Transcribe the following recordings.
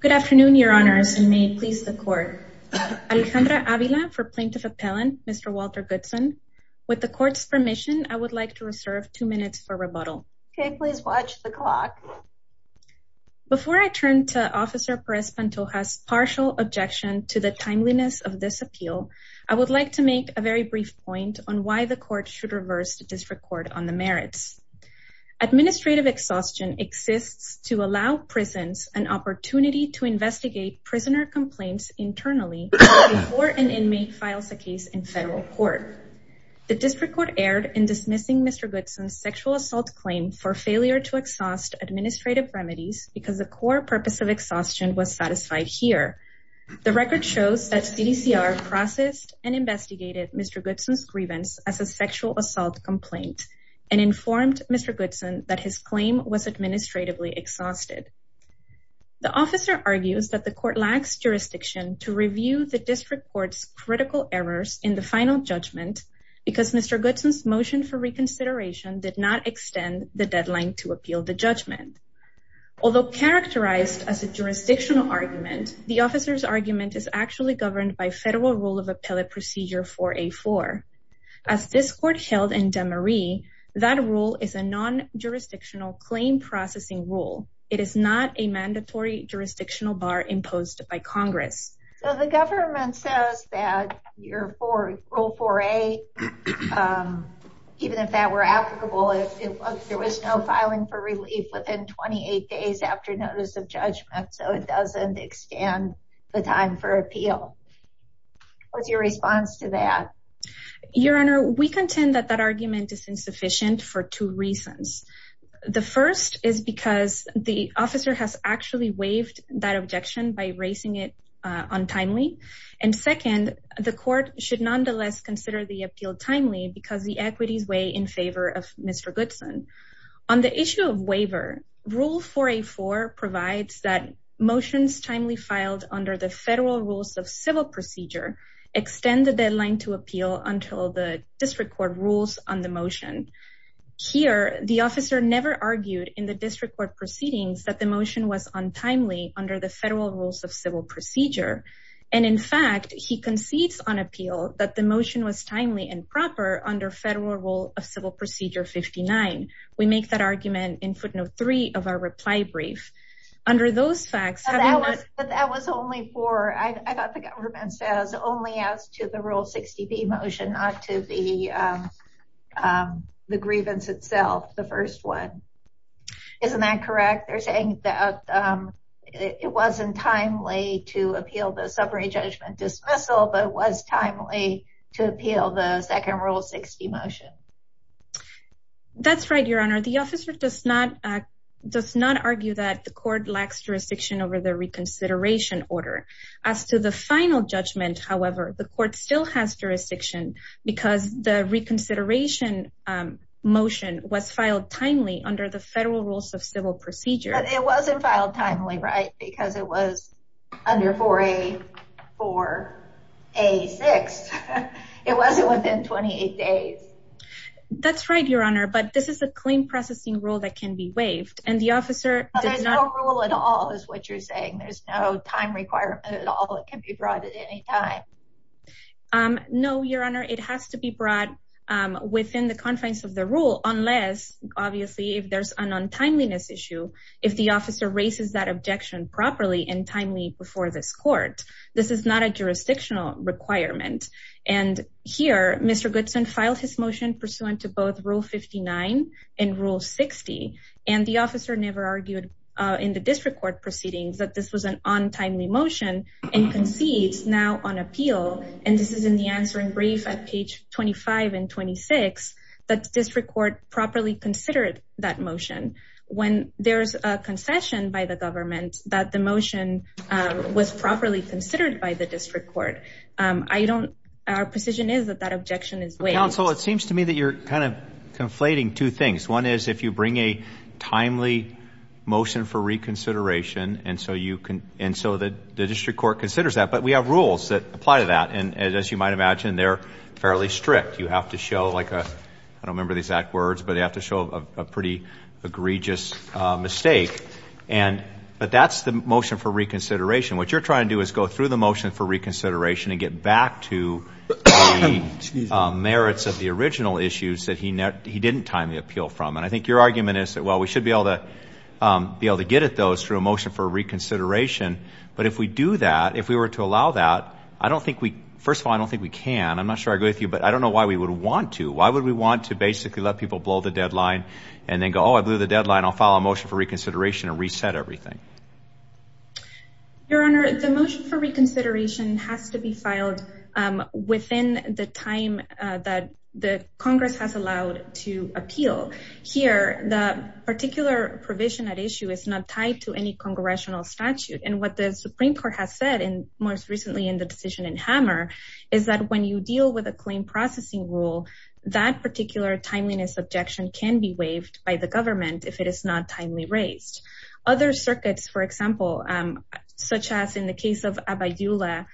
Good afternoon, your honors, and may it please the court. Alejandra Avila for plaintiff appellant, Mr. Walter Goodson. With the court's permission, I would like to reserve two minutes for rebuttal. Okay, please watch the clock. Before I turn to Officer Perez-Pantoja's partial objection to the timeliness of this appeal, I would like to make a very brief point on why the court should reverse the district court on the merits. Administrative exhaustion exists to allow prisons an opportunity to investigate prisoner complaints internally before an inmate files a case in federal court. The district court erred in dismissing Mr. Goodson's sexual assault claim for failure to exhaust administrative remedies because the core purpose of exhaustion was satisfied here. The record shows that CDCR processed and investigated Mr. Goodson's grievance as a sexual assault complaint and informed Mr. Goodson that his claim was administratively exhausted. The officer argues that the court lacks jurisdiction to review the district court's critical errors in the final judgment because Mr. Goodson's motion for reconsideration did not extend the deadline to appeal the judgment. Although characterized as a jurisdictional argument, the officer's argument is actually governed by federal rule of appellate procedure 4A-4. As this court held in DeMarie, that rule is a non-jurisdictional claim processing rule. It is not a mandatory jurisdictional bar imposed by Congress. So the government says that rule 4A, even if that were applicable, there was no filing for relief within 28 days after notice of judgment, so it doesn't extend the time for appeal. What's your response to that? Your Honor, we contend that that argument is insufficient for two reasons. The first is because the officer has actually waived that objection by raising it untimely. And second, the court should nonetheless consider the appeal timely because the equities weigh in favor of Mr. Goodson. On the issue of waiver, rule 4A-4 provides that motions timely filed under the federal rules of civil procedure extend the deadline to appeal until the district court rules on the motion. Here, the officer never argued in the district court proceedings that the motion was untimely under the federal rules of civil procedure. And in fact, he concedes on appeal that the motion was timely and proper under federal rule of civil procedure 59. We make that argument in footnote three of our reply brief. But that was only for, I thought the government says only as to the rule 60B motion, not to the grievance itself, the first one. Isn't that correct? They're saying that it wasn't timely to appeal the summary judgment dismissal, but it was timely to appeal the second rule 60 motion. That's right, Your Honor. The officer does not does not argue that the court lacks jurisdiction over the reconsideration order. As to the final judgment, however, the court still has jurisdiction because the reconsideration motion was filed timely under the federal rules of civil procedure. It wasn't filed timely, right? Because it was under 4A-4A-6. It wasn't within 28 days. That's right, Your Honor. But this is a claim processing rule that can be waived. And the officer does not rule at all is what you're saying. There's no time requirement at all. It can be brought at any time. No, Your Honor, it has to be brought within the confines of the rule, unless, obviously, if there's an untimeliness issue, if the officer raises that objection properly and timely before this court. This is not a jurisdictional requirement. And here, Mr. Goodson filed his motion pursuant to both Rule 59 and Rule 60. And the officer never argued in the district court proceedings that this was an untimely motion and concedes now on appeal. And this is in the answering brief at page 25 and 26 that the district court properly considered that motion. When there's a concession by the government that the motion was properly considered by the district court, I don't – our position is that that objection is waived. Counsel, it seems to me that you're kind of conflating two things. One is if you bring a timely motion for reconsideration and so the district court considers that. But we have rules that apply to that. And as you might imagine, they're fairly strict. You have to show like a – I don't remember the exact words, but they have to show a pretty egregious mistake. But that's the motion for reconsideration. What you're trying to do is go through the motion for reconsideration and get back to the merits of the original issues that he didn't timely appeal from. And I think your argument is that, well, we should be able to get at those through a motion for reconsideration. But if we do that, if we were to allow that, I don't think we – first of all, I don't think we can. I'm not sure I agree with you, but I don't know why we would want to. Why would we want to basically let people blow the deadline and then go, oh, I blew the deadline. I'll file a motion for reconsideration and reset everything. Your Honor, the motion for reconsideration has to be filed within the time that Congress has allowed to appeal. Here, the particular provision at issue is not tied to any congressional statute. And what the Supreme Court has said most recently in the decision in Hammer is that when you deal with a claim processing rule, that particular timeliness objection can be waived by the government if it is not timely raised. Other circuits, for example, such as in the case of Abayula,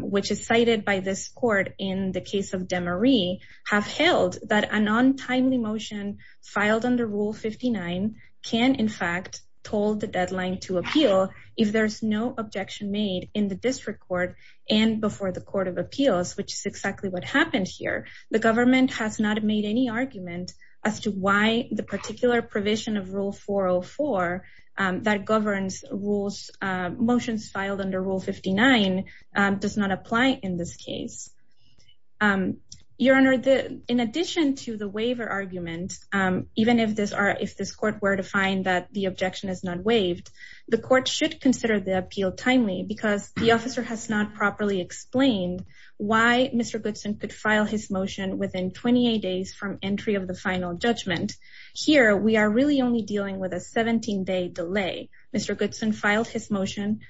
which is cited by this court in the case of Demarie, have held that a non-timely motion filed under Rule 59 can in fact hold the deadline to appeal if there's no objection made in the district court and before the Court of Appeals, which is exactly what happened here. The government has not made any argument as to why the particular provision of Rule 404 that governs motions filed under Rule 59 does not apply in this case. Your Honor, in addition to the waiver argument, even if this court were to find that the objection is not waived, the court should consider the appeal timely because the officer has not properly explained why Mr. Goodson could file his motion within 28 days from entry of the final judgment. Here, we are really only dealing with a 17-day delay. Mr. Goodson filed his motion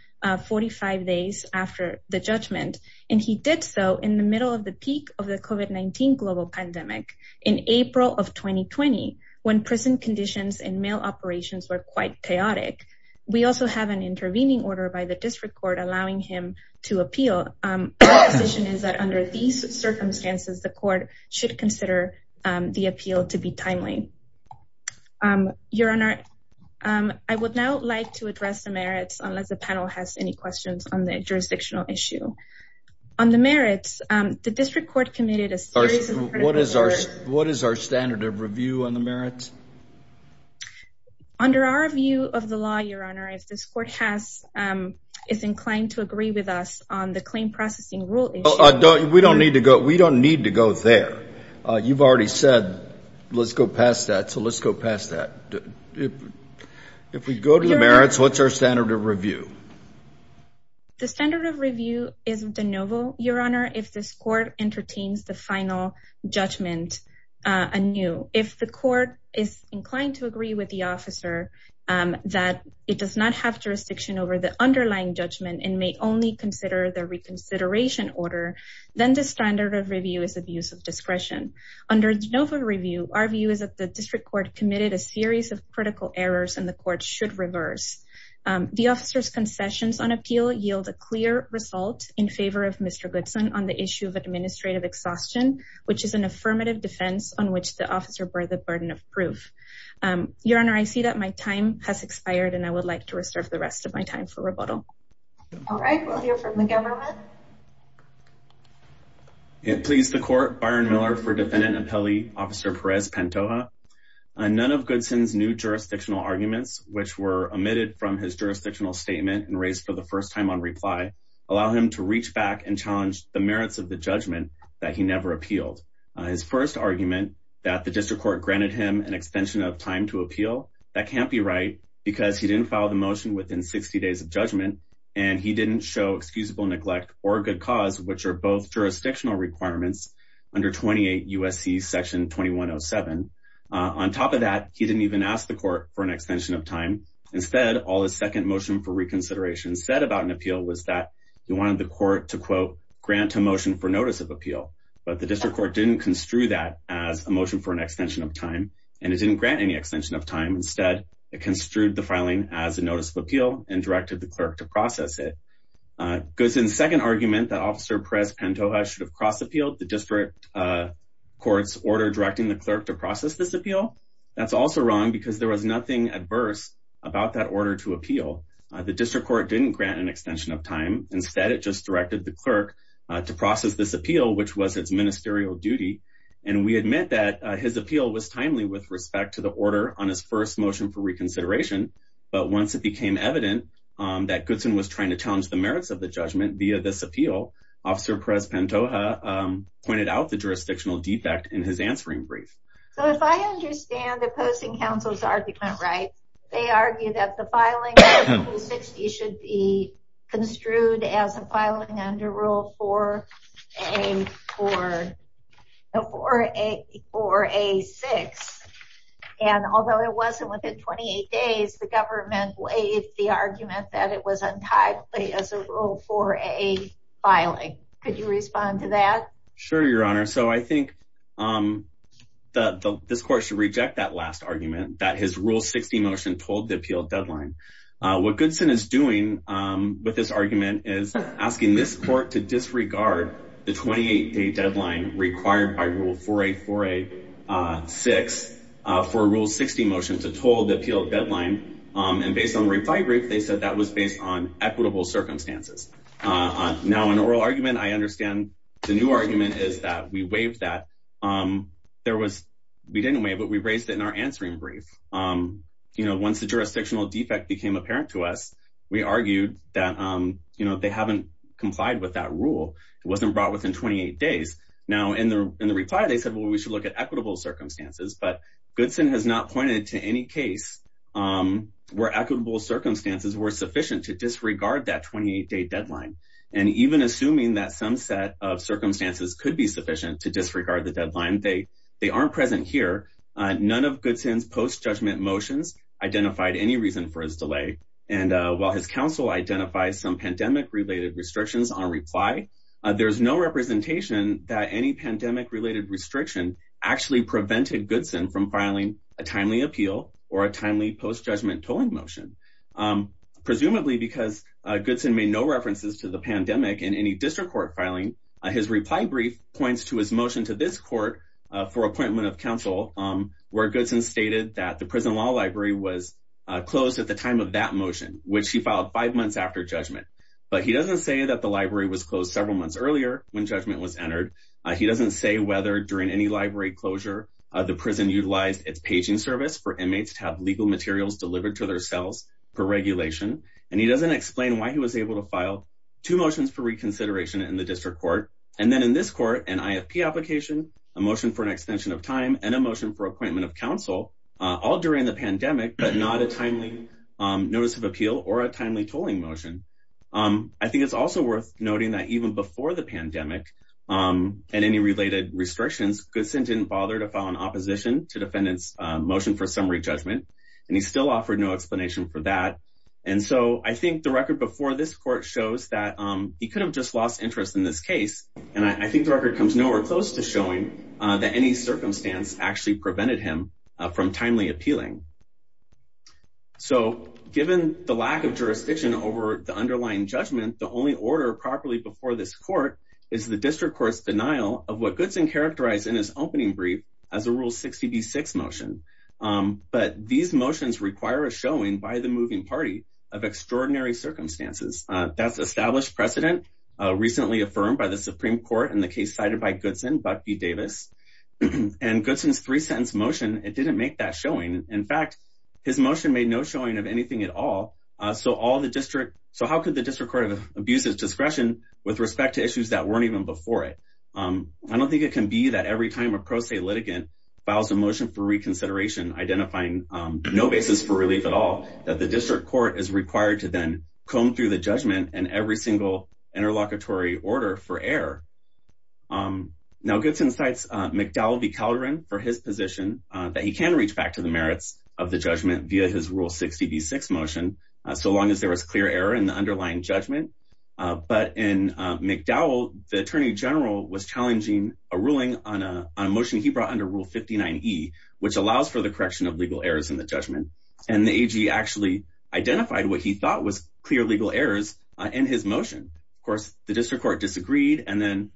45 days after the judgment, and he did so in the middle of the peak of the COVID-19 global pandemic in April of 2020, when prison conditions and mail operations were quite chaotic. We also have an intervening order by the district court allowing him to appeal. Our position is that under these circumstances, the court should consider the appeal to be timely. Your Honor, I would now like to address the merits, unless the panel has any questions on the jurisdictional issue. On the merits, the district court committed a series of... What is our standard of review on the merits? Under our view of the law, Your Honor, if this court is inclined to agree with us on the claim processing rule issue... We don't need to go there. You've already said, let's go past that, so let's go past that. If we go to the merits, what's our standard of review? The standard of review is de novo, Your Honor, if this court entertains the final judgment anew. If the court is inclined to agree with the officer that it does not have jurisdiction over the underlying judgment and may only consider the reconsideration order, then the standard of review is abuse of discretion. Under de novo review, our view is that the district court committed a series of critical errors and the court should reverse. The officer's concessions on appeal yield a clear result in favor of Mr. Goodson on the issue of administrative exhaustion, which is an affirmative defense on which the officer bore the burden of proof. Your Honor, I see that my time has expired, and I would like to reserve the rest of my time for rebuttal. All right, we'll hear from the government. Please, the court. Byron Miller for defendant appellee, Officer Perez-Pantoja. None of Goodson's new jurisdictional arguments, which were omitted from his jurisdictional statement and raised for the first time on reply, allow him to reach back and challenge the merits of the judgment that he never appealed. His first argument that the district court granted him an extension of time to appeal, that can't be right because he didn't follow the motion within 60 days of judgment, and he didn't show excusable neglect or a good cause, which are both jurisdictional requirements under 28 U.S.C. Section 2107. On top of that, he didn't even ask the court for an extension of time. Instead, all his second motion for reconsideration said about an appeal was that he wanted the court to, quote, grant a motion for notice of appeal. But the district court didn't construe that as a motion for an extension of time, and it didn't grant any extension of time. Instead, it construed the filing as a notice of appeal and directed the clerk to process it. Goodson's second argument that Officer Perez-Pantoja should have cross-appealed the district court's order directing the clerk to process this appeal, that's also wrong because there was nothing adverse about that order to appeal. The district court didn't grant an extension of time. Instead, it just directed the clerk to process this appeal, which was its ministerial duty. And we admit that his appeal was timely with respect to the order on his first motion for reconsideration. But once it became evident that Goodson was trying to challenge the merits of the judgment via this appeal, Officer Perez-Pantoja pointed out the jurisdictional defect in his answering brief. So if I understand the opposing counsel's argument right, they argue that the filing under Rule 60 should be construed as a filing under Rule 4A6. And although it wasn't within 28 days, the government waived the argument that it was untimely as a Rule 4A filing. Could you respond to that? Sure, Your Honor. So I think that this court should reject that last argument that his Rule 60 motion told the appeal deadline. What Goodson is doing with this argument is asking this court to disregard the 28-day deadline required by Rule 4A4A6 for Rule 60 motion to toll the appeal deadline. And based on the reply brief, they said that was based on equitable circumstances. Now, in oral argument, I understand the new argument is that we waived that. We didn't waive, but we raised it in our answering brief. Once the jurisdictional defect became apparent to us, we argued that they haven't complied with that rule. It wasn't brought within 28 days. Now, in the reply, they said, well, we should look at equitable circumstances. But Goodson has not pointed to any case where equitable circumstances were sufficient to disregard that 28-day deadline. And even assuming that some set of circumstances could be sufficient to disregard the deadline, they aren't present here. None of Goodson's post-judgment motions identified any reason for his delay. And while his counsel identifies some pandemic-related restrictions on reply, there's no representation that any pandemic-related restriction actually prevented Goodson from filing a timely appeal or a timely post-judgment tolling motion. Presumably because Goodson made no references to the pandemic in any district court filing, his reply brief points to his motion to this court for appointment of counsel where Goodson stated that the prison law library was closed at the time of that motion, which he filed five months after judgment. But he doesn't say that the library was closed several months earlier when judgment was entered. He doesn't say whether during any library closure, the prison utilized its paging service for inmates to have legal materials delivered to their cells per regulation. And he doesn't explain why he was able to file two motions for reconsideration in the district court. And then in this court, an IFP application, a motion for an extension of time, and a motion for appointment of counsel, all during the pandemic, but not a timely notice of appeal or a timely tolling motion. I think it's also worth noting that even before the pandemic and any related restrictions, Goodson didn't bother to file an opposition to defendant's motion for summary judgment. And he still offered no explanation for that. And so I think the record before this court shows that he could have just lost interest in this case. And I think the record comes nowhere close to showing that any circumstance actually prevented him from timely appealing. So given the lack of jurisdiction over the underlying judgment, the only order properly before this court is the district court's denial of what Goodson characterized in his opening brief as a rule 60B6 motion. But these motions require a showing by the moving party of extraordinary circumstances. That's established precedent recently affirmed by the Supreme Court in the case cited by Goodson, Buck v. Davis. And Goodson's three-sentence motion, it didn't make that showing. In fact, his motion made no showing of anything at all. So how could the district court abuse his discretion with respect to issues that weren't even before it? I don't think it can be that every time a pro se litigant files a motion for reconsideration identifying no basis for relief at all, that the district court is required to then comb through the judgment and every single interlocutory order for error. Now, Goodson cites McDowell v. Calderon for his position that he can reach back to the merits of the judgment via his rule 60B6 motion, so long as there was clear error in the underlying judgment. But in McDowell, the attorney general was challenging a ruling on a motion he brought under Rule 59E, which allows for the correction of legal errors in the judgment. And the AG actually identified what he thought was clear legal errors in his motion. Of course, the district court disagreed and then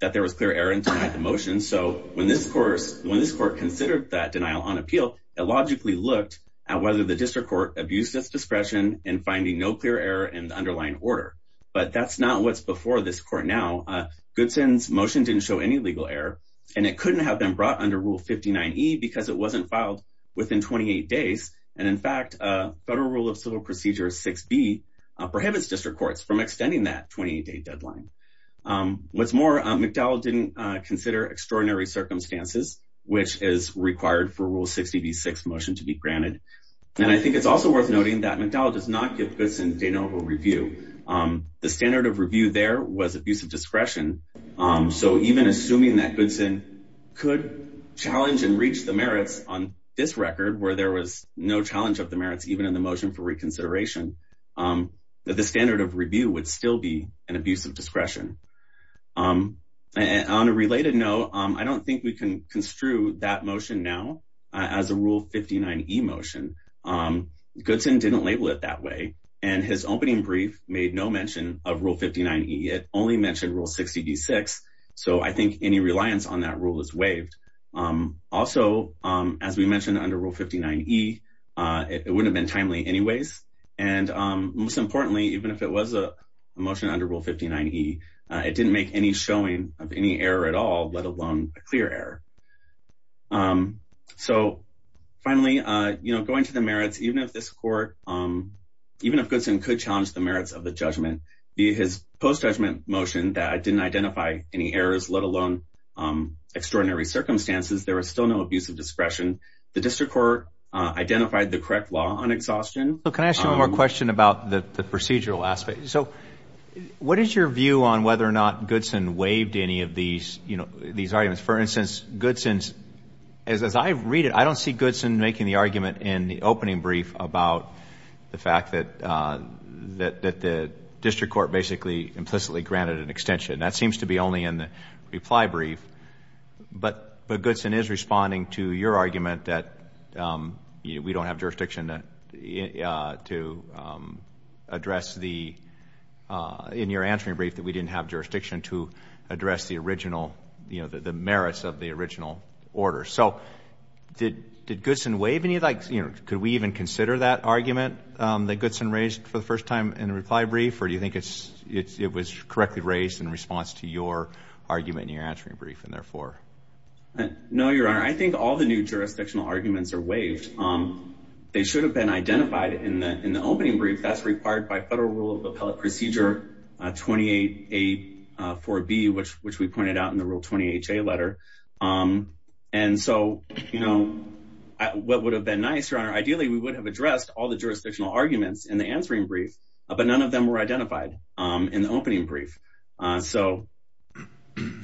that there was clear error in the motion. So when this court considered that denial on appeal, it logically looked at whether the district court abused its discretion in finding no clear error in the underlying order. But that's not what's before this court now. Goodson's motion didn't show any legal error, and it couldn't have been brought under Rule 59E because it wasn't filed within 28 days. And in fact, Federal Rule of Civil Procedure 6B prohibits district courts from extending that 28-day deadline. What's more, McDowell didn't consider extraordinary circumstances, which is required for Rule 60B6 motion to be granted. And I think it's also worth noting that McDowell does not give Goodson de novo review. The standard of review there was abuse of discretion. So even assuming that Goodson could challenge and reach the merits on this record, where there was no challenge of the merits even in the motion for reconsideration, the standard of review would still be an abuse of discretion. And on a related note, I don't think we can construe that motion now as a Rule 59E motion. Goodson didn't label it that way. And his opening brief made no mention of Rule 59E. It only mentioned Rule 60B6. So I think any reliance on that rule is waived. Also, as we mentioned under Rule 59E, it wouldn't have been timely anyways. And most importantly, even if it was a motion under Rule 59E, it didn't make any showing of any error at all, let alone a clear error. So finally, going to the merits, even if Goodson could challenge the merits of the judgment via his post-judgment motion that didn't identify any errors, let alone extraordinary circumstances, there was still no abuse of discretion. The district court identified the correct law on exhaustion. So can I ask you one more question about the procedural aspect? So what is your view on whether or not Goodson waived any of these arguments? For instance, Goodson's, as I read it, I don't see Goodson making the argument in the opening brief about the fact that the district court basically implicitly granted an extension. That seems to be only in the reply brief. But Goodson is responding to your argument that we don't have jurisdiction to address the, in your answering brief, that we didn't have jurisdiction to address the original, the merits of the original order. So did Goodson waive any of that? Could we even consider that argument that Goodson raised for the first time in the reply brief? Or do you think it was correctly raised in response to your argument in your answering brief and therefore? No, Your Honor. I think all the new jurisdictional arguments are waived. They should have been identified in the opening brief. That's required by Federal Rule of Appellate Procedure 28A4B, which we pointed out in the Rule 20HA letter. And so, you know, what would have been nice, Your Honor, ideally, we would have addressed all the jurisdictional arguments in the answering brief, but none of them were identified in the opening brief. So,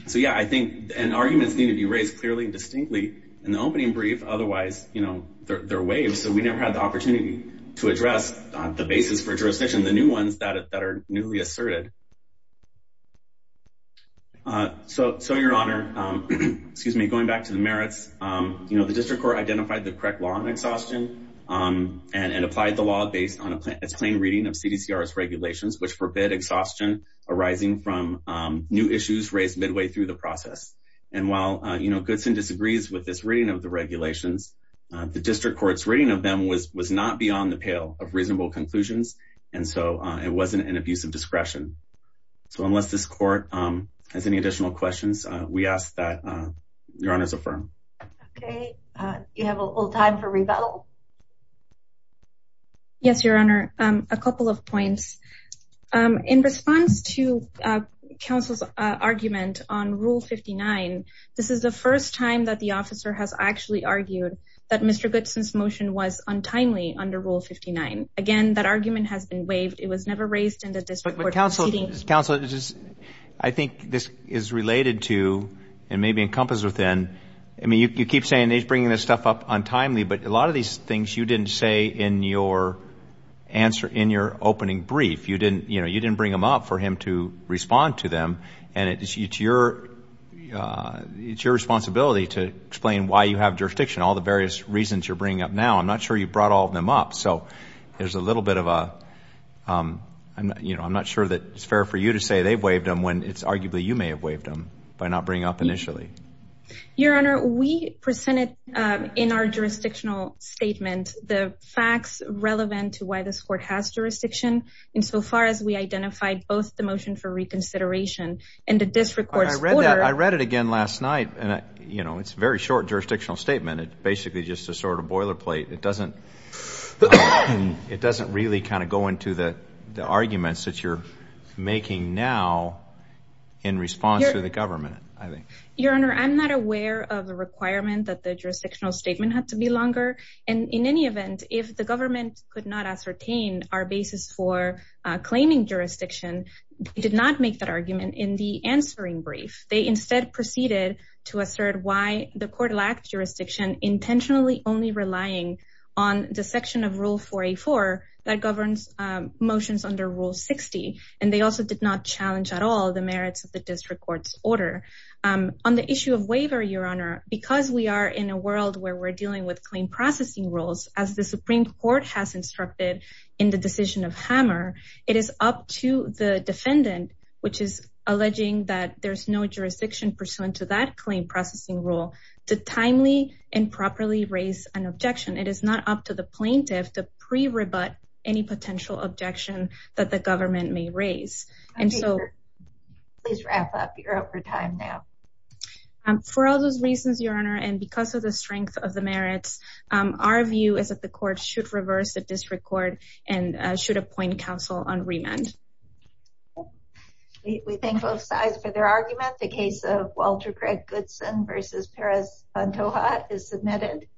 so, yeah, I think arguments need to be raised clearly and distinctly in the opening brief. Otherwise, you know, they're waived. So we never had the opportunity to address the basis for jurisdiction, the new ones that are newly asserted. So, so, Your Honor, excuse me, going back to the merits, you know, the District Court identified the correct law on exhaustion and applied the law based on its plain reading of CDCR's regulations, which forbid exhaustion arising from new issues raised midway through the process. And while, you know, Goodson disagrees with this reading of the regulations, the District Court's reading of them was not beyond the pale of reasonable conclusions. And so it wasn't an abuse of discretion. So unless this court has any additional questions, we ask that Your Honor's affirm. Okay. You have a little time for rebuttal. Yes, Your Honor. A couple of points. In response to counsel's argument on Rule 59, this is the first time that the officer has actually argued that Mr. Goodson's motion was untimely under Rule 59. Again, that argument has been waived. It was never raised in the District Court. But counsel, counsel, I think this is related to and maybe encompassed within. I mean, you keep saying he's bringing this stuff up untimely, but a lot of these things you didn't say in your answer, in your opening brief. You didn't, you know, you didn't bring them up for him to respond to them. And it's your responsibility to explain why you have jurisdiction, all the various reasons you're bringing up now. I'm not sure you brought all of them up. So there's a little bit of a, you know, I'm not sure that it's fair for you to say they've waived them when it's arguably you may have waived them by not bringing up initially. Your Honor, we presented in our jurisdictional statement the facts relevant to why this court has jurisdiction. And so far as we identified both the motion for reconsideration and the District Court's order. I read that. I read it again last night. And, you know, it's very short jurisdictional statement. It's basically just a sort of boilerplate. It doesn't it doesn't really kind of go into the arguments that you're making now in response to the government. Your Honor, I'm not aware of the requirement that the jurisdictional statement had to be longer. And in any event, if the government could not ascertain our basis for claiming jurisdiction, did not make that argument in the answering brief. They instead proceeded to assert why the court lacked jurisdiction, intentionally only relying on the section of rule for a four that governs motions under Rule 60. And they also did not challenge at all the merits of the District Court's order on the issue of waiver. Your Honor, because we are in a world where we're dealing with claim processing rules, as the Supreme Court has instructed in the decision of Hammer, it is up to the defendant, which is alleging that there's no jurisdiction pursuant to that claim processing rule to timely and properly raise an objection. It is not up to the plaintiff to pre-rebut any potential objection that the government may raise. And so please wrap up. You're over time now. For all those reasons, Your Honor, and because of the strength of the merits, our view is that the court should reverse the District Court and should appoint counsel on remand. We thank both sides for their argument. The case of Walter Gregg Goodson versus Perez-Pantoja is submitted.